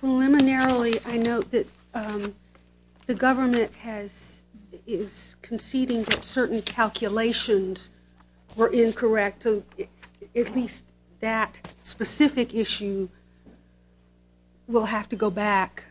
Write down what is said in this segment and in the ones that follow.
Preliminarily, I note that the government is conceding that certain calculations were incorrect. At least that specific issue will have to go back.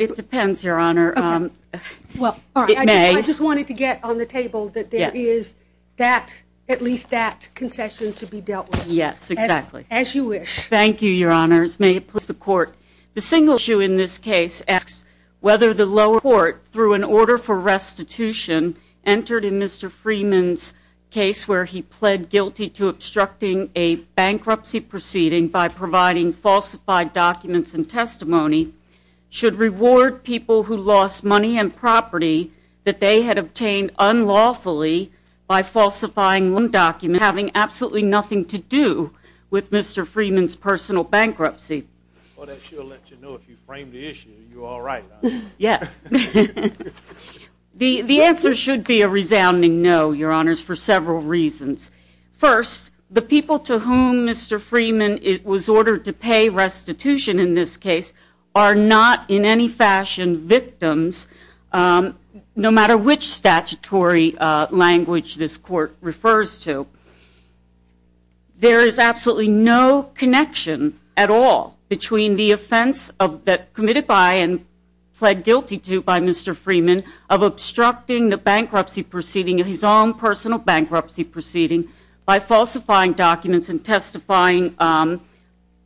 It depends, Your Honor. It may. I just wanted to get on the table that there is at least that concession to be dealt with. Yes. Exactly. As you wish. Thank you, Your Honors. May it please the Court. The single issue in this case asks whether the lower court, through an order for restitution, entered in Mr. Freeman's case where he pled guilty to obstructing a bankruptcy proceeding by providing falsified documents and testimony, should reward people who lost money and property that they had obtained unlawfully by falsifying documents having absolutely nothing to do with Mr. Freeman's personal bankruptcy. Well, that sure lets you know if you frame the issue, you're all right, I know. Yes. The answer should be a resounding no, Your Honors, for several reasons. First, the people to whom Mr. Freeman was ordered to pay restitution in this case are not in any fashion victims, no matter which statutory language this Court refers to. There is absolutely no connection at all between the offense that committed by and pled guilty to by Mr. Freeman of obstructing the bankruptcy proceeding, his own personal bankruptcy proceeding, by falsifying documents and testifying,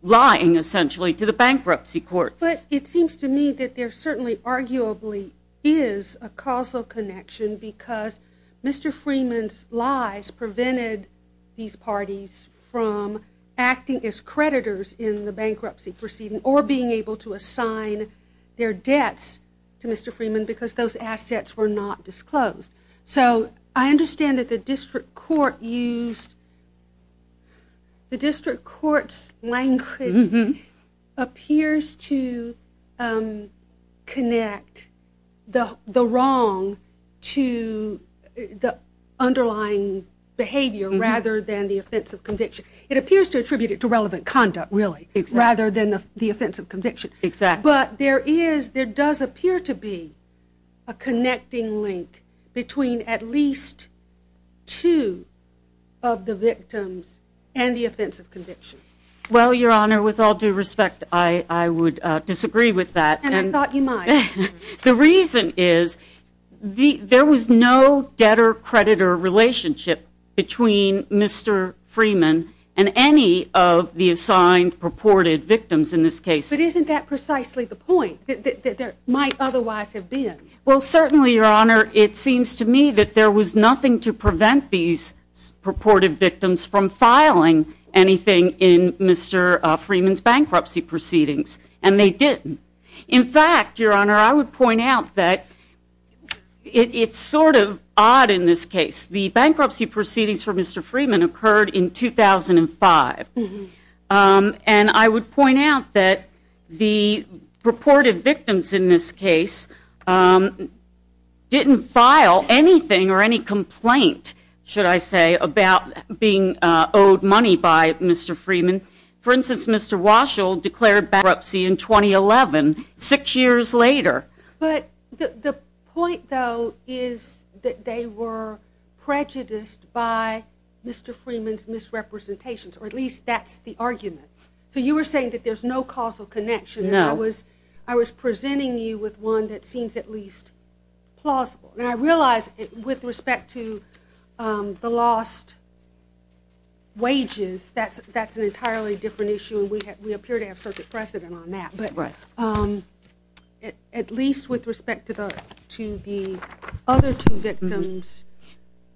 lying essentially, to the bankruptcy court. But it seems to me that there certainly arguably is a causal connection because Mr. Freeman's lies prevented these parties from acting as creditors in the bankruptcy proceeding or being able to assign their debts to Mr. Freeman because those assets were not disclosed. So I understand that the district court used, the district court's language appears to connect the wrong to the underlying behavior rather than the offense of conviction. It appears to attribute it to relevant conduct, really, rather than the offense of conviction. But there does appear to be a connecting link between at least two of the victims and the offense of conviction. Well, Your Honor, with all due respect, I would disagree with that. And I thought you might. The reason is there was no debtor-creditor relationship between Mr. Freeman and any of the assigned purported victims in this case. But isn't that precisely the point, that there might otherwise have been? Well, certainly, Your Honor, it seems to me that there was nothing to prevent these purported victims from filing anything in Mr. Freeman's bankruptcy proceedings. And they didn't. In fact, Your Honor, I would point out that it's sort of odd in this case. The bankruptcy proceedings for Mr. Freeman occurred in 2005. And I would point out that the purported victims in this case didn't file anything or any complaint, should I say, about being owed money by Mr. Freeman. For instance, Mr. Waschel declared bankruptcy in 2011, six years later. But the point, though, is that they were prejudiced by Mr. Freeman's misrepresentations, or at least that's the argument. So you were saying that there's no causal connection. No. I was presenting you with one that seems at least plausible. And I realize, with respect to the lost wages, that's an entirely different issue, and we appear to have circuit precedent on that. But at least with respect to the other two victims,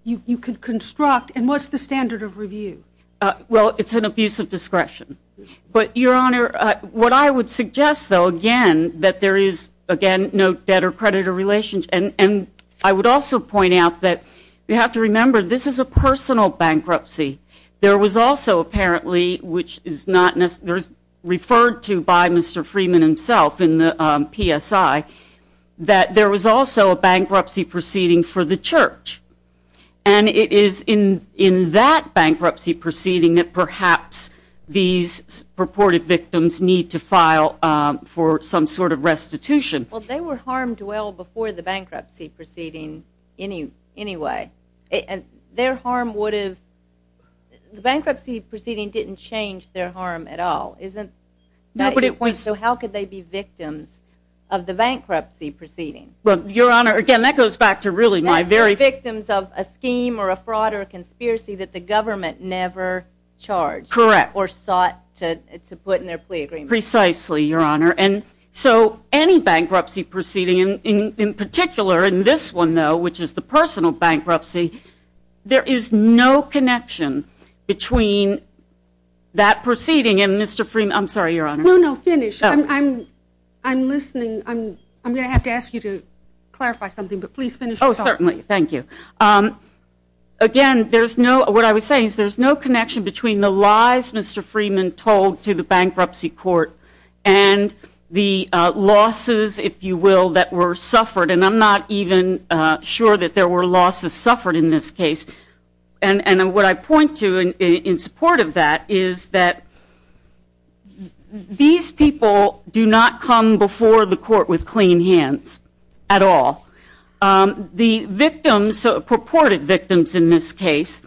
you could construct, and what's the standard of review? Well, it's an abuse of discretion. But, Your Honor, what I would suggest, though, again, that there is, again, no debtor-creditor relationship. And I would also point out that you have to remember, this is a personal bankruptcy. There was also, apparently, which is referred to by Mr. Freeman himself in the PSI, that there was also a bankruptcy proceeding for the church. And it is in that bankruptcy proceeding that perhaps these purported victims need to file for some sort of restitution. Well, they were harmed well before the bankruptcy proceeding anyway. And their harm would have... The bankruptcy proceeding didn't change their harm at all, is it? No, but it was... So how could they be victims of the bankruptcy proceeding? Well, Your Honor, again, that goes back to really my very... Victims of a scheme or a fraud or a conspiracy that the government never charged. Correct. Or sought to put in their plea agreement. Precisely, Your Honor. And so, any bankruptcy proceeding, in particular, in this one, though, which is the personal bankruptcy, there is no connection between that proceeding and Mr. Freeman... I'm sorry, Your Honor. No, no, finish. I'm listening. I'm going to have to ask you to clarify something, but please finish. Oh, certainly. Thank you. Again, what I was saying is there's no connection between the lies Mr. Freeman told to the bankruptcy court and the losses, if you will, that were suffered. And I'm not even sure that there were losses suffered in this case. And what I point to in support of that is that these people do not come before the court with clean hands at all. The victims, purported victims in this case,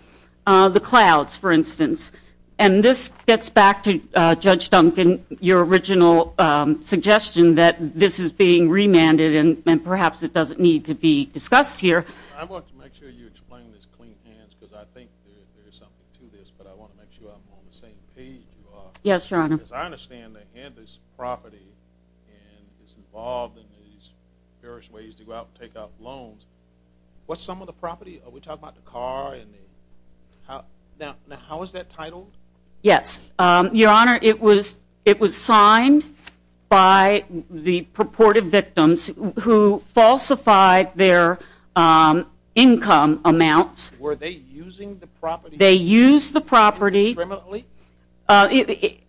the Clouds, for instance, and this gets back to Judge Duncan, your original suggestion that this is being remanded and perhaps it doesn't need to be discussed here. I want to make sure you explain this clean hands because I think there's something to this, but I want to make sure I'm on the same page you are. Yes, Your Honor. Because I understand they had this property and it's involved in these various ways to go out and take out loans. What's some of the property? Are we talking about the car and the... Now, how is that titled? Yes, Your Honor. It was signed by the purported victims who falsified their income amounts. Were they using the property? They used the property. Incriminately?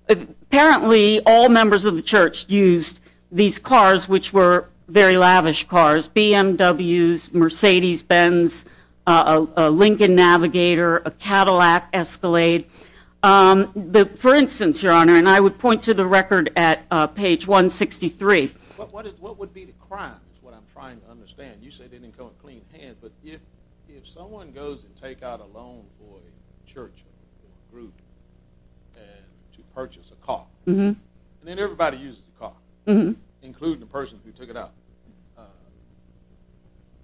Apparently, all members of the church used these cars, which were very lavish cars, BMWs, Mercedes-Benz, a Lincoln Navigator, a Cadillac Escalade. For instance, Your Honor, and I would point to the record at page 163. What would be the crime is what I'm trying to understand. You said they didn't come in clean hands, but if someone goes and take out a loan for a church group and to purchase a car, and then everybody uses the car, including the person who took it out,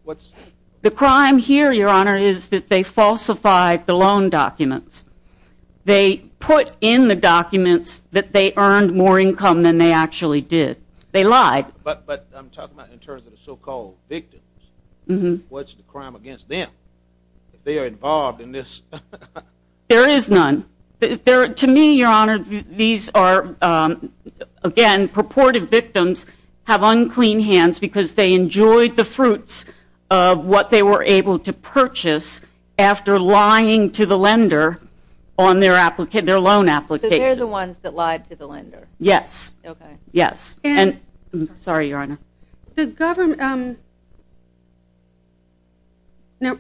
what's... The crime here, Your Honor, is that they falsified the loan documents. They put in the documents that they earned more income than they actually did. They lied. But I'm talking about in terms of the so-called victims. What's the crime against them? They are involved in this. There is none. To me, Your Honor, these are, again, purported victims have unclean hands because they enjoyed the fruits of what they were able to purchase after lying to the lender on their loan applications. So they're the ones that lied to the lender? Yes. Okay. Yes. And... Sorry, Your Honor. The government... Now...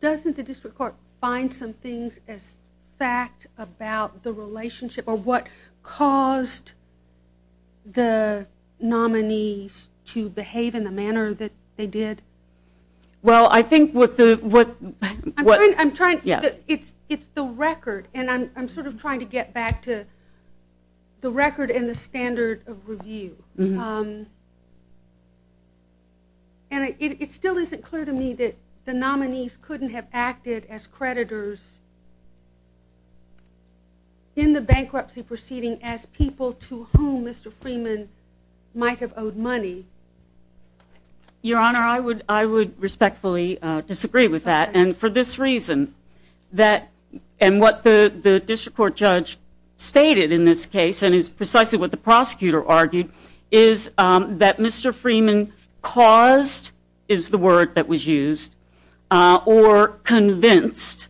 Doesn't the district court find some things as fact about the relationship or what caused the nominees to behave in the manner that they did? Well, I think what the... I'm trying... Yes. It's the record. And I'm sort of trying to get back to the record and the standard of review. Mm-hmm. And it still isn't clear to me that the nominees couldn't have acted as creditors in the bankruptcy proceeding as people to whom Mr. Freeman might have owed money. Your Honor, I would respectfully disagree with that. And for this reason, that... And what the district court judge stated in this case, and is precisely what the prosecutor argued, is that Mr. Freeman caused, is the word that was used, or convinced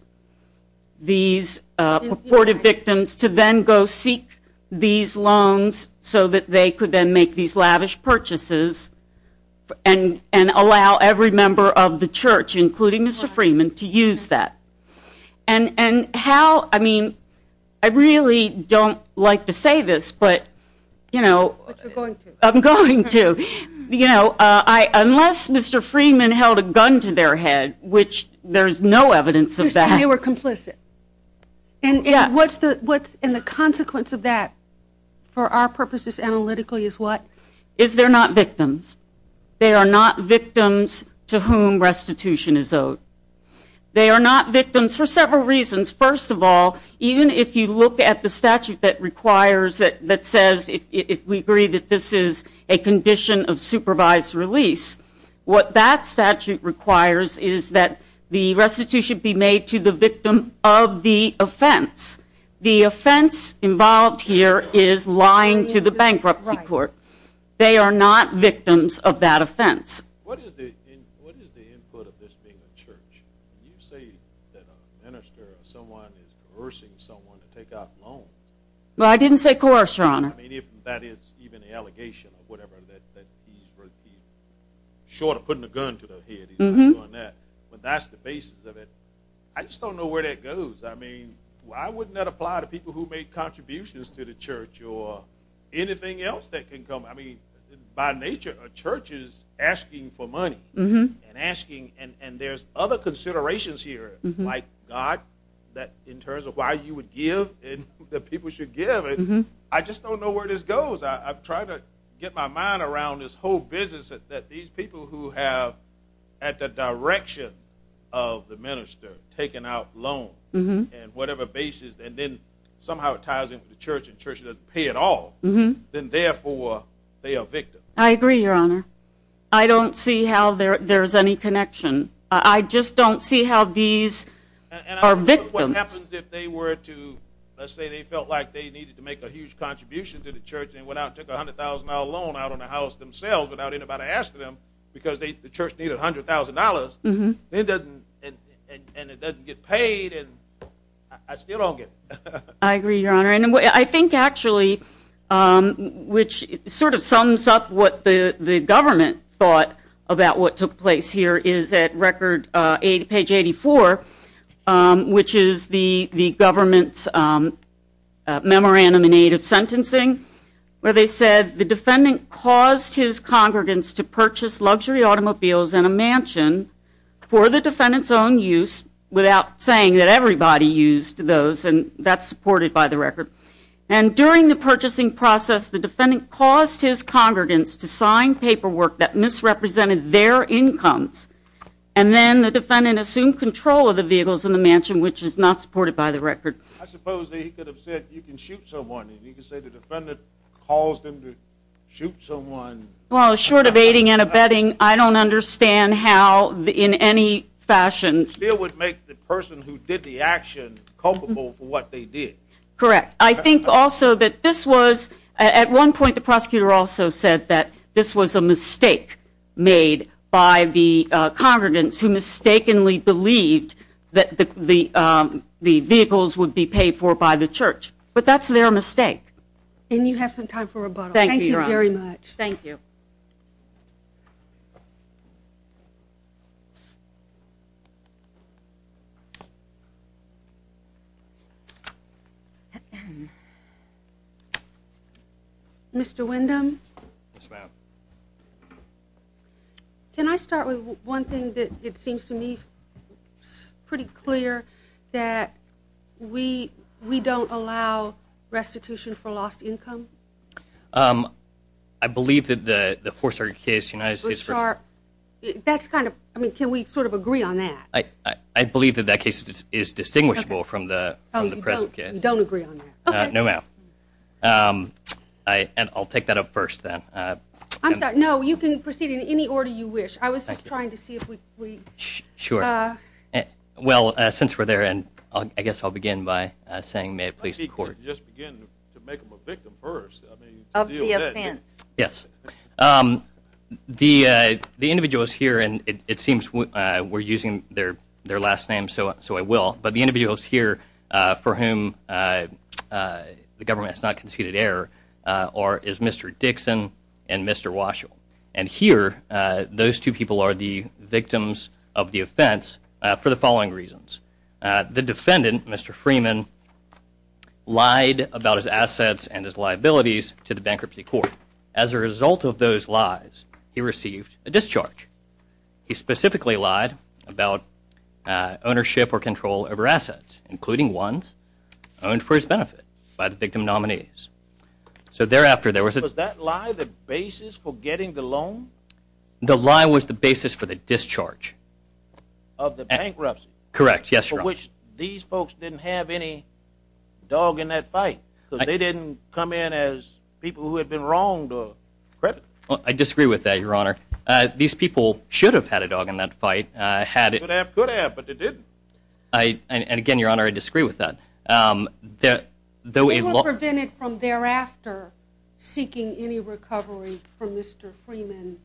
these purported victims to then go seek these loans so that they could then make these lavish purchases and allow every member of the church, including Mr. Freeman, to use that. And how... I mean, I really don't like to say this, but, you know... But you're going to. I'm going to. You know, unless Mr. Freeman held a gun to their head, which there's no evidence of that... You said they were complicit. Yes. And the consequence of that, for our purposes analytically, is what? Is they're not victims. They are not victims to whom restitution is owed. They are not victims for several reasons. First of all, even if you look at the statute that requires it, that says if we agree that this is a condition of supervised release, what that statute requires is that the restitution be made to the victim of the offense. The offense involved here is lying to the bankruptcy court. They are not victims of that offense. What is the input of this being a church? You say that a minister or someone is coercing someone to take out loans. Well, I didn't say coerce, Your Honor. I mean, if that is even an allegation or whatever, that he's short of putting a gun to their head. He's not doing that. But that's the basis of it. I just don't know where that goes. I mean, why wouldn't that apply to people who make contributions to the church or anything else that can come? I mean, by nature, a church is asking for money and asking, and there's other considerations here, like God, in terms of why you would give and that people should give. I just don't know where this goes. I've tried to get my mind around this whole business that these people who have, at the direction of the minister, taken out loans and whatever basis, and then somehow it ties into the church and the church doesn't pay at all, then therefore they are victims. I agree, Your Honor. I don't see how there's any connection. I just don't see how these are victims. And I don't know what happens if they were to, let's say, they felt like they needed to make a huge contribution to the church and went out and took a $100,000 loan out on the house themselves without anybody asking them because the church needed $100,000, and it doesn't get paid, and I still don't get it. I agree, Your Honor. I think actually, which sort of sums up what the government thought about what took place here, is at page 84, which is the government's memorandum in aid of sentencing, where they said the defendant caused his congregants to purchase luxury automobiles and a mansion for the defendant's own use without saying that everybody used those, and that's supported by the record. And during the purchasing process, the defendant caused his congregants to sign paperwork that misrepresented their incomes, and then the defendant assumed control of the vehicles and the mansion, which is not supported by the record. I suppose he could have said you can shoot someone, and he could say the defendant caused him to shoot someone. Well, short of aiding and abetting, I don't understand how in any fashion. It still would make the person who did the action culpable for what they did. Correct. I think also that this was, at one point the prosecutor also said that this was a mistake made by the congregants who mistakenly believed that the vehicles would be paid for by the church. But that's their mistake. And you have some time for rebuttal. Thank you, Your Honor. Thank you very much. Thank you. Mr. Windham? Yes, ma'am. Can I start with one thing that it seems to me pretty clear, that we don't allow restitution for lost income? I believe that the Forsyth case, United States v. That's kind of, I mean, can we sort of agree on that? I believe that that case is distinguishable from the present case. You don't agree on that? No, ma'am. And I'll take that up first, then. I'm sorry. No, you can proceed in any order you wish. I was just trying to see if we could. Sure. Well, since we're there, I guess I'll begin by saying may it please the Court. Why don't you just begin to make them a victim first? I mean, to deal with it. Of the offense. Yes. The individual is here, and it seems we're using their last name, so I will. But the individuals here for whom the government has not conceded error are Mr. Dixon and Mr. Washoe. And here, those two people are the victims of the offense for the following reasons. The defendant, Mr. Freeman, lied about his assets and his liabilities to the bankruptcy court. As a result of those lies, he received a discharge. He specifically lied about ownership or control over assets, including ones owned for his benefit by the victim nominees. So thereafter, there was a- Was that lie the basis for getting the loan? The lie was the basis for the discharge. Of the bankruptcy? Correct, yes, Your Honor. For which these folks didn't have any dog in that fight, because they didn't come in as people who had been wronged or credited. I disagree with that, Your Honor. These people should have had a dog in that fight. Could have, could have, but they didn't. And again, Your Honor, I disagree with that. It was prevented from thereafter seeking any recovery from Mr. Freeman,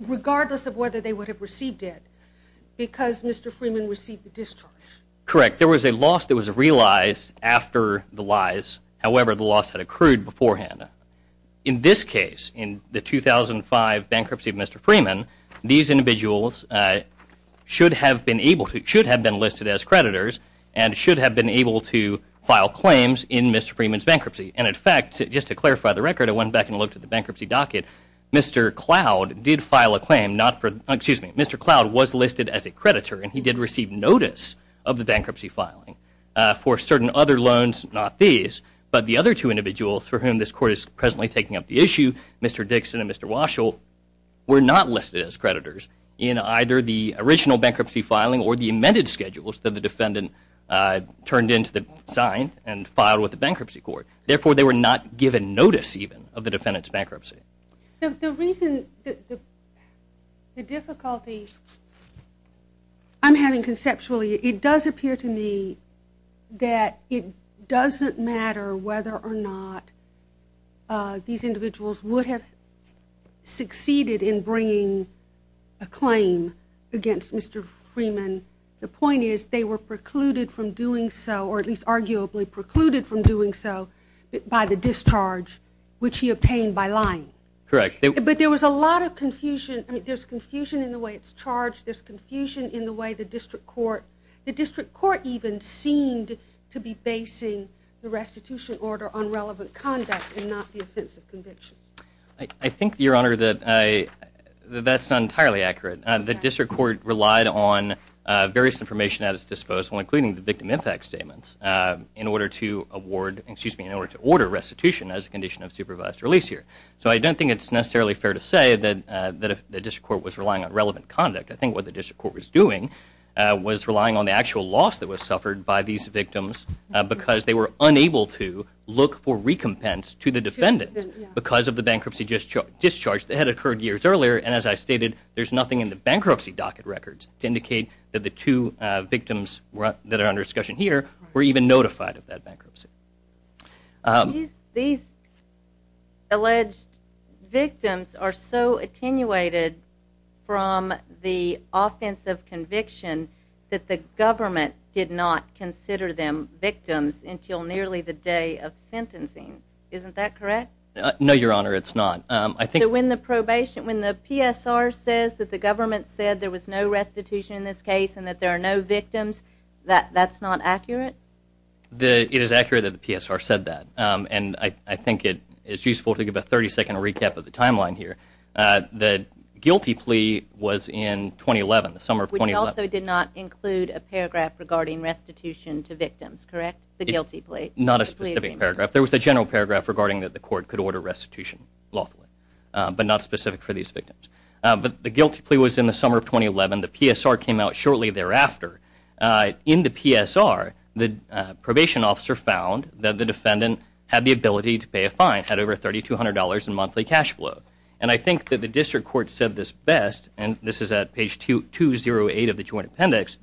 regardless of whether they would have received it, because Mr. Freeman received the discharge. Correct. There was a loss that was realized after the lies. However, the loss had accrued beforehand. In this case, in the 2005 bankruptcy of Mr. Freeman, these individuals should have been able to- should have been listed as creditors and should have been able to file claims in Mr. Freeman's bankruptcy. And in fact, just to clarify the record, I went back and looked at the bankruptcy docket. Mr. Cloud did file a claim not for- excuse me, Mr. Cloud was listed as a creditor, and he did receive notice of the bankruptcy filing. For certain other loans, not these, but the other two individuals for whom this court is presently taking up the issue, Mr. Dixon and Mr. Waschel, were not listed as creditors in either the original bankruptcy filing or the amended schedules that the defendant turned in to the- signed and filed with the bankruptcy court. Therefore, they were not given notice, even, of the defendant's bankruptcy. The reason- the difficulty I'm having conceptually, it does appear to me that it doesn't matter whether or not these individuals would have succeeded in bringing a claim against Mr. Freeman. The point is, they were precluded from doing so, or at least arguably precluded from doing so, by the discharge which he obtained by lying. Correct. But there was a lot of confusion. I mean, there's confusion in the way it's charged. There's confusion in the way the district court- the district court even seemed to be basing the restitution order on relevant conduct and not the offensive conviction. I think, Your Honor, that I- that's not entirely accurate. The district court relied on various information at its disposal, including the victim impact statements, in order to award- excuse me, in order to order restitution as a condition of supervised release here. So I don't think it's necessarily fair to say that the district court was relying on relevant conduct. I think what the district court was doing was relying on the actual loss that was suffered by these victims because they were unable to look for recompense to the defendant because of the bankruptcy discharge that had occurred years earlier. And as I stated, there's nothing in the bankruptcy docket records to indicate that the two victims that are under discussion here were even notified of that bankruptcy. These alleged victims are so attenuated from the offensive conviction that the government did not consider them victims until nearly the day of sentencing. Isn't that correct? No, Your Honor, it's not. I think- So when the probation- when the PSR says that the government said there was no restitution in this case and that there are no victims, that's not accurate? It is accurate that the PSR said that. And I think it's useful to give a 30-second recap of the timeline here. The guilty plea was in 2011, the summer of 2011. Which also did not include a paragraph regarding restitution to victims, correct? The guilty plea. Not a specific paragraph. There was a general paragraph regarding that the court could order restitution lawfully, but not specific for these victims. But the guilty plea was in the summer of 2011. The PSR came out shortly thereafter. In the PSR, the probation officer found that the defendant had the ability to pay a fine, had over $3,200 in monthly cash flow. And I think that the district court said this best, and this is at page 208 of the joint appendix,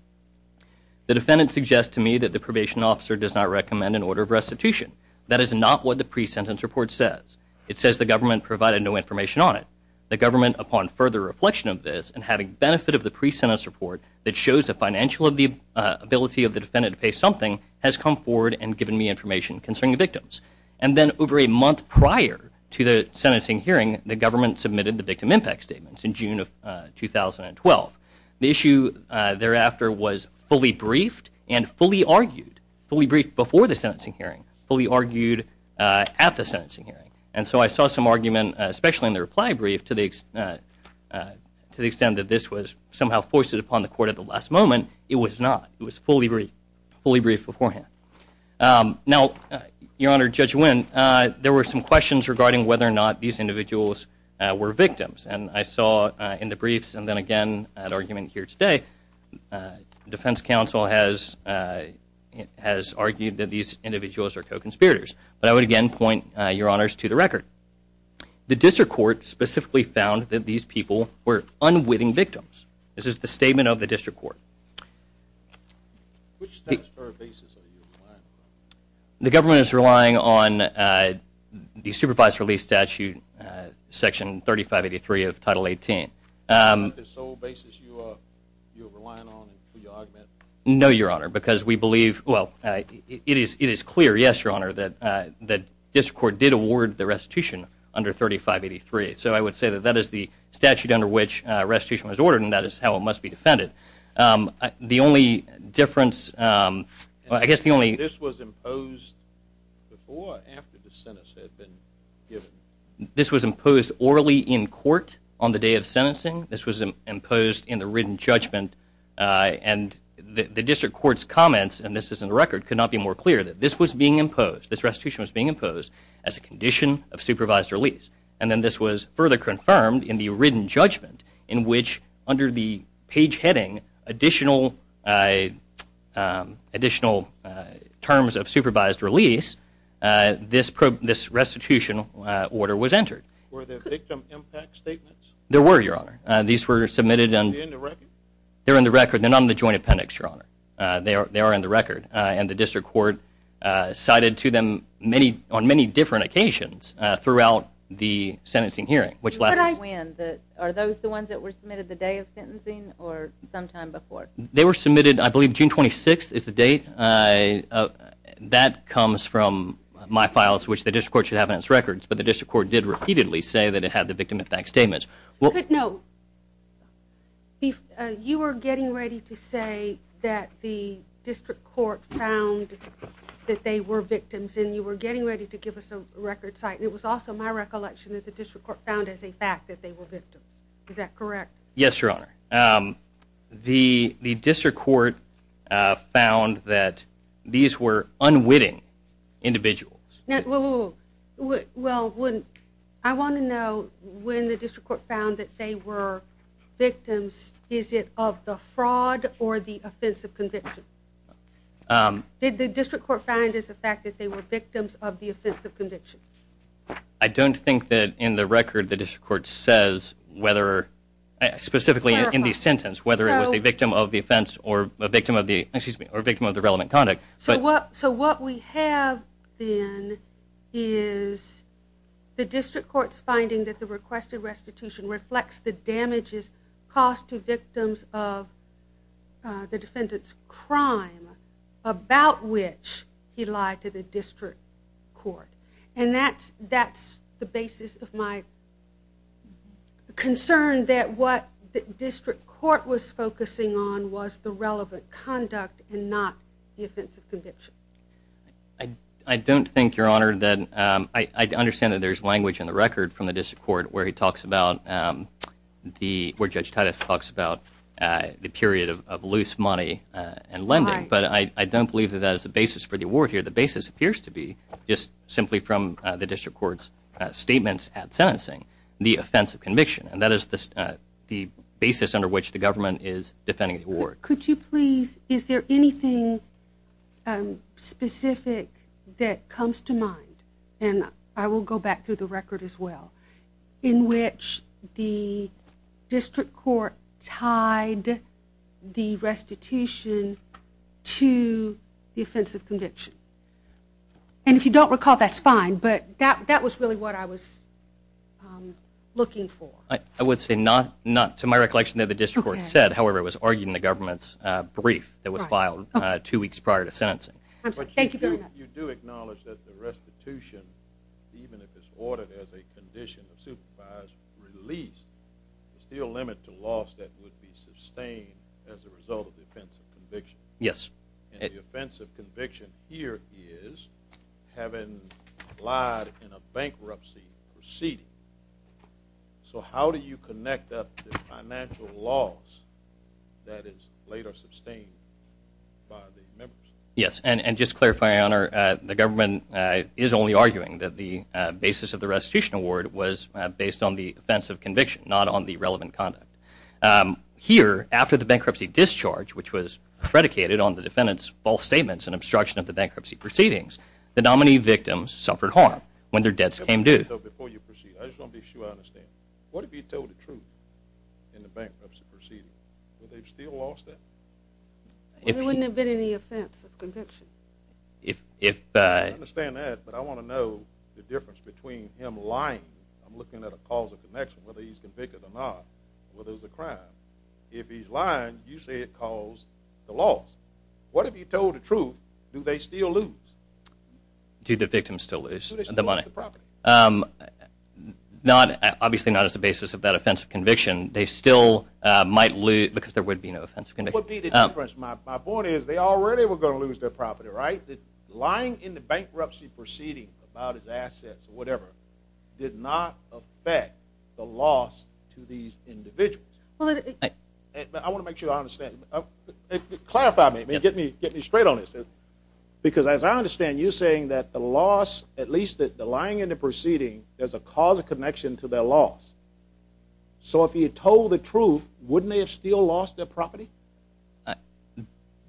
The defendant suggests to me that the probation officer does not recommend an order of restitution. That is not what the pre-sentence report says. It says the government provided no information on it. The government, upon further reflection of this and having benefit of the pre-sentence report that shows the financial ability of the defendant to pay something, has come forward and given me information concerning the victims. And then over a month prior to the sentencing hearing, the government submitted the victim impact statements in June of 2012. The issue thereafter was fully briefed and fully argued, fully briefed before the sentencing hearing, fully argued at the sentencing hearing. And so I saw some argument, especially in the reply brief, to the extent that this was somehow foisted upon the court at the last moment. It was not. It was fully briefed, fully briefed beforehand. Now, Your Honor, Judge Winn, there were some questions regarding whether or not these individuals were victims. And I saw in the briefs and then again at argument here today, defense counsel has argued that these individuals are co-conspirators. But I would again point, Your Honors, to the record. The district court specifically found that these people were unwitting victims. This is the statement of the district court. Which steps or basis are you relying on? The government is relying on the supervised release statute, Section 3583 of Title 18. Is that the sole basis you are relying on? No, Your Honor, because we believe, well, it is clear, yes, Your Honor, that the district court did award the restitution under 3583. So I would say that that is the statute under which restitution was ordered, and that is how it must be defended. The only difference, well, I guess the only- This was imposed before or after the sentence had been given? This was imposed orally in court on the day of sentencing. This was imposed in the written judgment. And the district court's comments, and this is in the record, could not be more clear that this was being imposed, this restitution was being imposed as a condition of supervised release. And then this was further confirmed in the written judgment, in which under the page heading additional terms of supervised release, this restitution order was entered. Were there victim impact statements? There were, Your Honor. These were submitted and- Are they in the record? They're in the record. They are in the record. And the district court cited to them on many different occasions throughout the sentencing hearing, which- When? Are those the ones that were submitted the day of sentencing or sometime before? They were submitted, I believe, June 26th is the date. That comes from my files, which the district court should have in its records, but the district court did repeatedly say that it had the victim impact statements. Good note. You were getting ready to say that the district court found that they were victims, and you were getting ready to give us a record cite, and it was also my recollection that the district court found as a fact that they were victims. Is that correct? Yes, Your Honor. The district court found that these were unwitting individuals. Well, I want to know when the district court found that they were victims, is it of the fraud or the offense of conviction? Did the district court find as a fact that they were victims of the offense of conviction? I don't think that in the record the district court says whether, specifically in the sentence, whether it was a victim of the offense or a victim of the relevant conduct. So what we have then is the district court's finding that the requested restitution reflects the damages caused to victims of the defendant's crime, about which he lied to the district court. And that's the basis of my concern that what the district court was focusing on was the relevant conduct and not the offense of conviction. I don't think, Your Honor, that I understand that there's language in the record from the district court where he talks about the, where Judge Titus talks about the period of loose money and lending, but I don't believe that that is the basis for the award here. The basis appears to be just simply from the district court's statements at sentencing, the offense of conviction, and that is the basis under which the government is defending the award. Could you please, is there anything specific that comes to mind, and I will go back through the record as well, in which the district court tied the restitution to the offense of conviction? And if you don't recall, that's fine, but that was really what I was looking for. I would say not to my recollection that the district court said, however it was argued in the government's brief that was filed two weeks prior to sentencing. I'm sorry. Thank you very much. But you do acknowledge that the restitution, even if it's ordered as a condition of supervise, released a steel limit to loss that would be sustained as a result of the offense of conviction? Yes. And the offense of conviction here is having lied in a bankruptcy proceeding. So how do you connect that to financial loss that is later sustained by the members? Yes, and just to clarify, Your Honor, the government is only arguing that the basis of the restitution award was based on the offense of conviction, not on the relevant conduct. Here, after the bankruptcy discharge, which was predicated on the defendant's false statements and obstruction of the bankruptcy proceedings, the nominee victims suffered harm when their debts came due. Before you proceed, I just want to be sure I understand. What if he told the truth in the bankruptcy proceeding? Would they have still lost that? There wouldn't have been any offense of conviction. I understand that, but I want to know the difference between him lying, I'm looking at a cause of connection, whether he's convicted or not, whether it's a crime. If he's lying, you say it caused the loss. What if he told the truth? Do they still lose? Do the victims still lose the money? Do they still lose the property? Obviously not as a basis of that offense of conviction. They still might lose because there would be no offense of conviction. What would be the difference? My point is they already were going to lose their property, right? The lying in the bankruptcy proceeding about his assets or whatever did not affect the loss to these individuals. I want to make sure I understand. Clarify that. Get me straight on this. Because as I understand, you're saying that the loss, at least the lying in the proceeding, there's a cause of connection to their loss. So if he had told the truth, wouldn't they have still lost their property?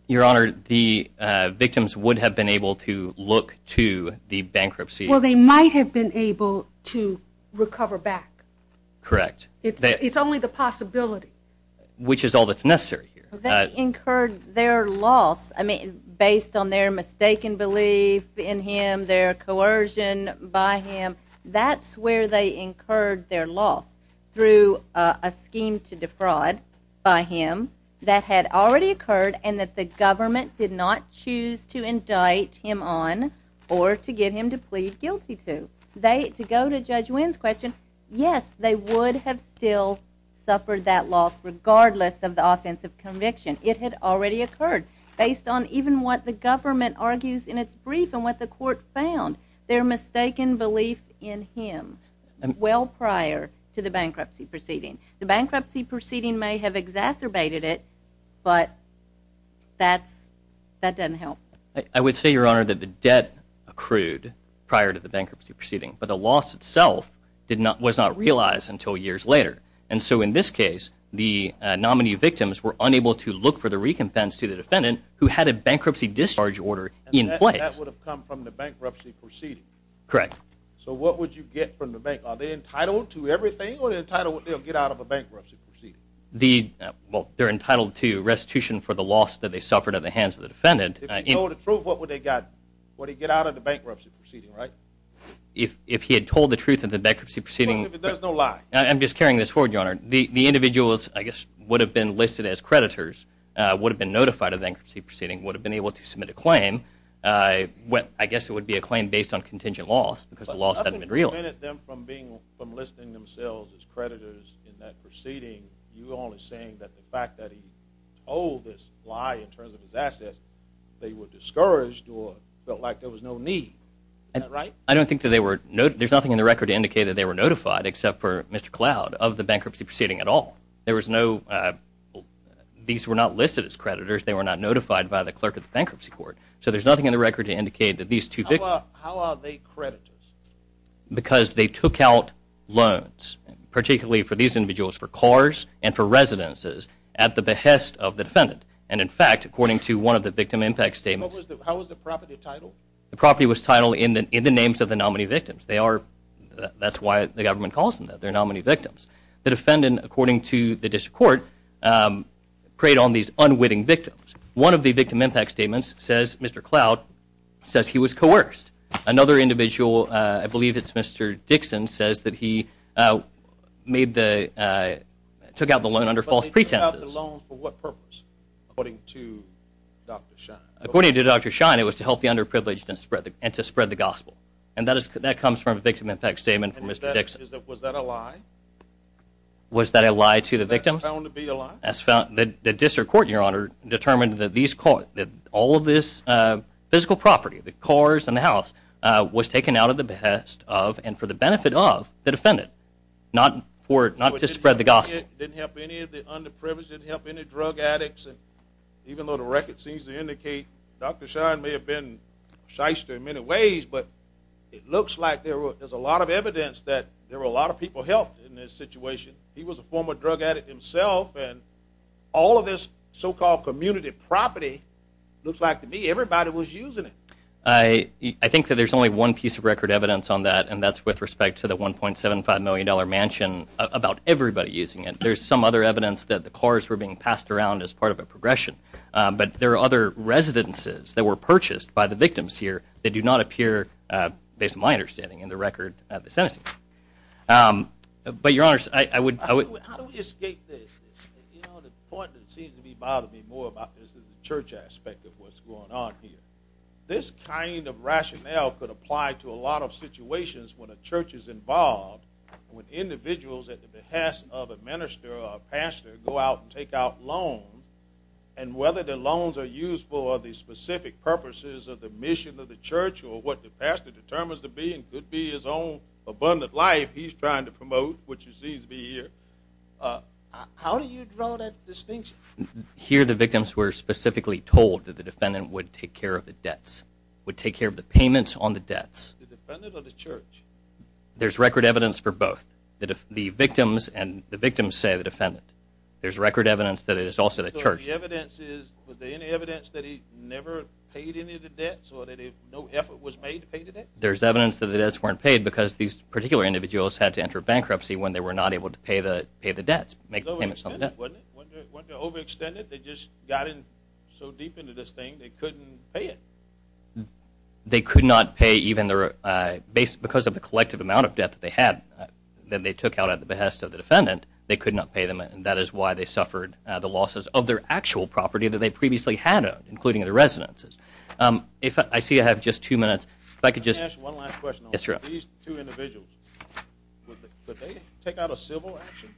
Your Honor, the victims would have been able to look to the bankruptcy. Well, they might have been able to recover back. Correct. It's only the possibility. Which is all that's necessary here. They incurred their loss based on their mistaken belief in him, their coercion by him. That's where they incurred their loss, through a scheme to defraud by him. That had already occurred and that the government did not choose to indict him on or to get him to plead guilty to. To go to Judge Wynn's question, yes, they would have still suffered that loss regardless of the offense of conviction. It had already occurred. Based on even what the government argues in its brief and what the court found, their mistaken belief in him, well prior to the bankruptcy proceeding. The bankruptcy proceeding may have exacerbated it, but that doesn't help. I would say, Your Honor, that the debt accrued prior to the bankruptcy proceeding, but the loss itself was not realized until years later. And so in this case, the nominee victims were unable to look for the recompense to the defendant who had a bankruptcy discharge order in place. That would have come from the bankruptcy proceeding. Correct. So what would you get from the bank? Are they entitled to everything or are they entitled to get out of a bankruptcy proceeding? They're entitled to restitution for the loss that they suffered at the hands of the defendant. If he told the truth, what would they get? Would he get out of the bankruptcy proceeding, right? If he had told the truth of the bankruptcy proceeding. There's no lie. I'm just carrying this forward, Your Honor. The individuals, I guess, would have been listed as creditors, would have been notified of the bankruptcy proceeding, would have been able to submit a claim. I guess it would be a claim based on contingent loss because the loss hadn't been real. If he prevented them from listing themselves as creditors in that proceeding, you're only saying that the fact that he told this lie in terms of his assets, they were discouraged or felt like there was no need. Is that right? I don't think that they were. There's nothing in the record to indicate that they were notified, except for Mr. Cloud, of the bankruptcy proceeding at all. There was no. These were not listed as creditors. They were not notified by the clerk of the bankruptcy court. So there's nothing in the record to indicate that these two victims. How are they creditors? Because they took out loans, particularly for these individuals, for cars and for residences, at the behest of the defendant. And, in fact, according to one of the victim impact statements. How was the property titled? The property was titled in the names of the nominee victims. That's why the government calls them that. They're nominee victims. The defendant, according to the district court, preyed on these unwitting victims. One of the victim impact statements says Mr. Cloud says he was coerced. Another individual, I believe it's Mr. Dixon, says that he took out the loan under false pretenses. He took out the loan for what purpose, according to Dr. Shine? According to Dr. Shine, it was to help the underprivileged and to spread the gospel. And that comes from a victim impact statement from Mr. Dixon. Was that a lie? Was that a lie to the victim? Was that found to be a lie? The district court, Your Honor, determined that all of this physical property, the cars and the house, was taken out of the behest of and for the benefit of the defendant, not to spread the gospel. It didn't help any of the underprivileged? It didn't help any drug addicts? Even though the record seems to indicate Dr. Shine may have been a shyster in many ways, but it looks like there's a lot of evidence that there were a lot of people helped in this situation. He was a former drug addict himself, and all of this so-called community property, looks like to me everybody was using it. I think that there's only one piece of record evidence on that, and that's with respect to the $1.75 million mansion, about everybody using it. There's some other evidence that the cars were being passed around as part of a progression. But there are other residences that were purchased by the victims here that do not appear, based on my understanding, in the record of the sentencing. But, Your Honor, I would— How do we escape this? The point that seems to be bothering me more about this is the church aspect of what's going on here. This kind of rationale could apply to a lot of situations when a church is involved, when individuals at the behest of a minister or a pastor go out and take out loans, and whether the loans are used for the specific purposes of the mission of the church or what the pastor determines to be and could be his own abundant life he's trying to promote, which he seems to be here. How do you draw that distinction? Here the victims were specifically told that the defendant would take care of the debts, would take care of the payments on the debts. The defendant or the church? There's record evidence for both. The victims say the defendant. There's record evidence that it is also the church. The evidence is, was there any evidence that he never paid any of the debts or that no effort was made to pay the debts? There's evidence that the debts weren't paid because these particular individuals had to enter bankruptcy when they were not able to pay the debts, make payments on the debts. Wasn't it overextended? They just got in so deep into this thing they couldn't pay it. They could not pay even their— because of the collective amount of debt that they had that they took out at the behest of the defendant, they could not pay them, and that is why they suffered the losses of their actual property that they previously had owned, including the residences. I see I have just two minutes. If I could just— Let me ask one last question on these two individuals. Could they take out a civil action?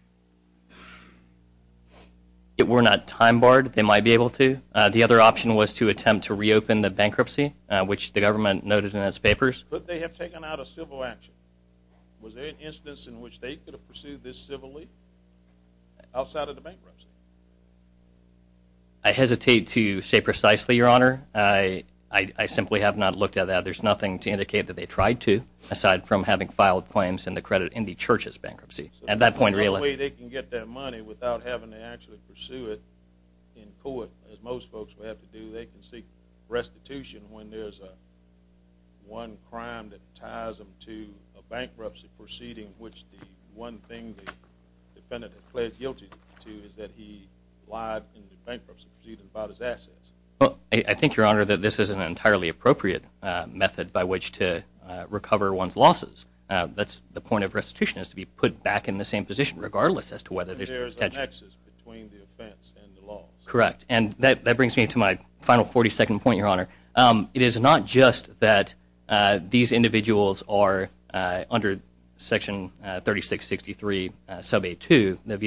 If it were not time barred, they might be able to. The other option was to attempt to reopen the bankruptcy, which the government noted in its papers. Could they have taken out a civil action? Was there an instance in which they could have pursued this civilly outside of the bankruptcy? I hesitate to say precisely, Your Honor. I simply have not looked at that. There's nothing to indicate that they tried to, aside from having filed claims in the Church's bankruptcy. At that point— The only way they can get that money without having to actually pursue it in court, as most folks would have to do, they can seek restitution when there's one crime that ties them to a bankruptcy proceeding which the one thing the defendant has pled guilty to is that he lied in the bankruptcy proceeding about his assets. I think, Your Honor, that this is an entirely appropriate method by which to recover one's losses. That's the point of restitution is to be put back in the same position, regardless as to whether there's— Correct, and that brings me to my final 40-second point, Your Honor. It is not just that these individuals are, under Section 3663, Sub 8-2, the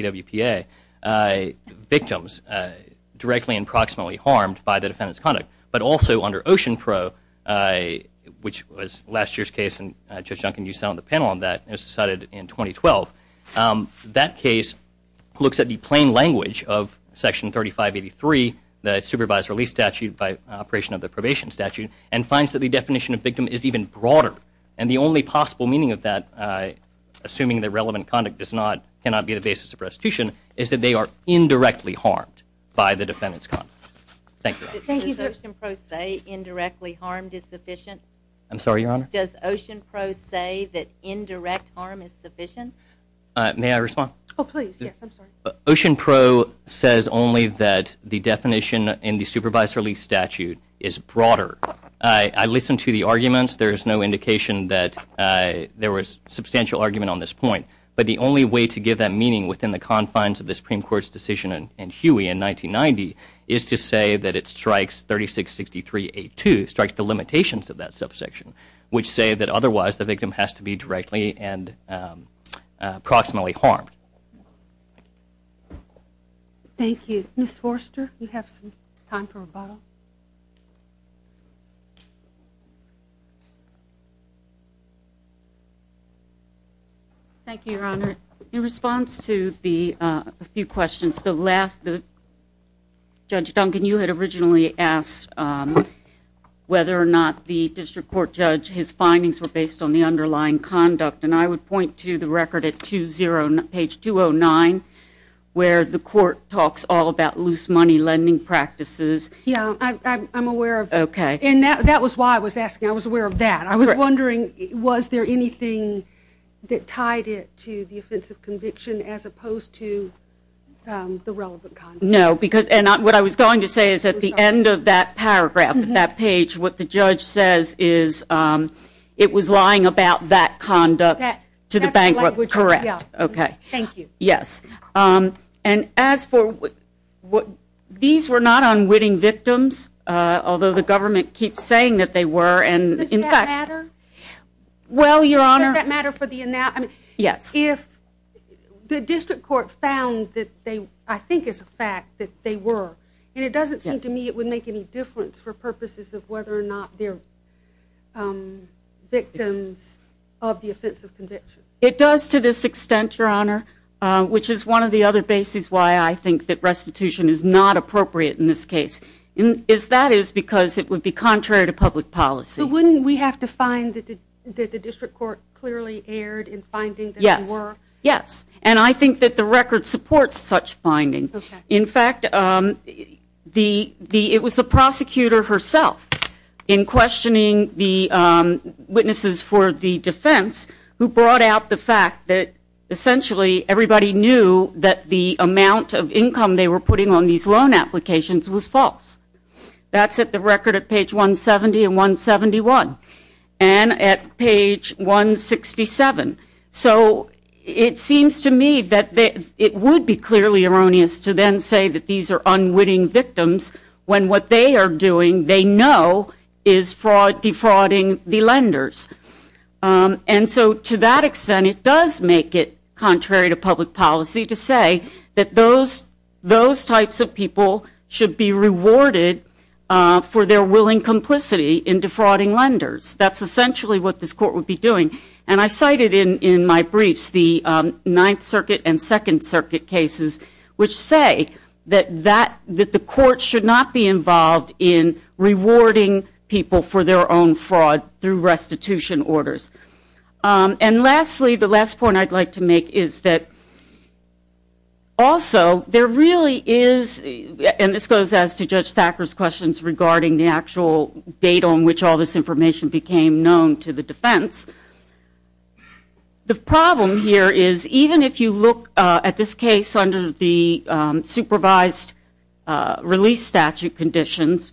VWPA, victims directly and proximately harmed by the defendant's conduct, but also under Ocean Pro, which was last year's case, and Judge Duncan, you sat on the panel on that, and it was decided in 2012. That case looks at the plain language of Section 3583, the supervised release statute by operation of the probation statute, and finds that the definition of victim is even broader, and the only possible meaning of that, assuming that relevant conduct cannot be the basis of restitution, is that they are indirectly harmed by the defendant's conduct. Thank you, Your Honor. Does Ocean Pro say indirectly harmed is sufficient? I'm sorry, Your Honor? Does Ocean Pro say that indirect harm is sufficient? May I respond? Oh, please. Yes, I'm sorry. Ocean Pro says only that the definition in the supervised release statute is broader. I listened to the arguments. There is no indication that there was substantial argument on this point, but the only way to give that meaning within the confines of the Supreme Court's decision in Huey in 1990 is to say that it strikes 3663A2, strikes the limitations of that subsection, which say that otherwise the victim has to be directly and approximately harmed. Thank you. Ms. Forster, you have some time for rebuttal? Thank you, Your Honor. In response to a few questions, Judge Duncan, you had originally asked whether or not the district court judge, his findings were based on the underlying conduct, and I would point to the record at page 209 where the court talks all about loose money lending practices. Yes, I'm aware of that. Okay. And that was why I was asking. I was aware of that. I was wondering, was there anything that tied it to the offensive conviction as opposed to the relevant conduct? No, because what I was going to say is at the end of that paragraph, that page, what the judge says is it was lying about that conduct to the bank, correct. Okay. Thank you. Yes. And as for what these were not unwitting victims, although the government keeps saying that they were, and in fact- Does that matter? Well, Your Honor- Does that matter for the- Yes. If the district court found that they, I think it's a fact that they were, and it doesn't seem to me it would make any difference for purposes of whether or not they're victims of the offensive conviction. It does to this extent, Your Honor, which is one of the other bases why I think that restitution is not appropriate in this case, is that is because it would be contrary to public policy. But wouldn't we have to find that the district court clearly erred in finding that they were? Yes. Yes. And I think that the record supports such finding. Okay. In fact, it was the prosecutor herself in questioning the witnesses for the defense who brought out the fact that essentially everybody knew that the amount of income they were putting on these loan applications was false. That's at the record at page 170 and 171 and at page 167. So it seems to me that it would be clearly erroneous to then say that these are unwitting victims when what they are doing they know is defrauding the lenders. And so to that extent, it does make it contrary to public policy to say that those types of people should be rewarded for their willing complicity in defrauding lenders. That's essentially what this court would be doing. And I cited in my briefs the Ninth Circuit and Second Circuit cases, which say that the court should not be involved in rewarding people for their own fraud through restitution orders. And lastly, the last point I'd like to make is that also there really is, and this goes as to Judge Thacker's questions regarding the actual date on which all this information became known to the defense. The problem here is even if you look at this case under the supervised release statute conditions,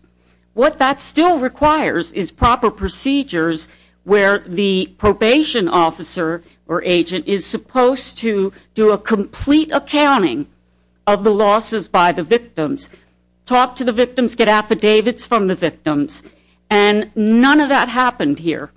what that still requires is proper procedures where the probation officer is supposed to do a complete accounting of the losses by the victims, talk to the victims, get affidavits from the victims, and none of that happened here.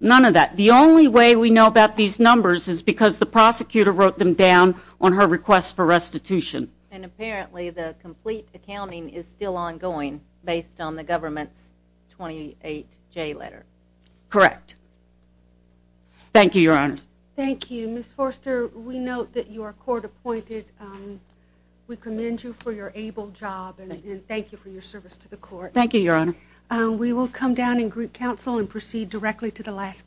None of that. The only way we know about these numbers is because the prosecutor wrote them down on her request for restitution. And apparently the complete accounting is still ongoing based on the government's 28J letter. Correct. Thank you, Your Honors. Thank you. Ms. Forster, we note that you are court appointed. We commend you for your able job and thank you for your service to the court. Thank you, Your Honor. We will come down in group counsel and proceed directly to the last case.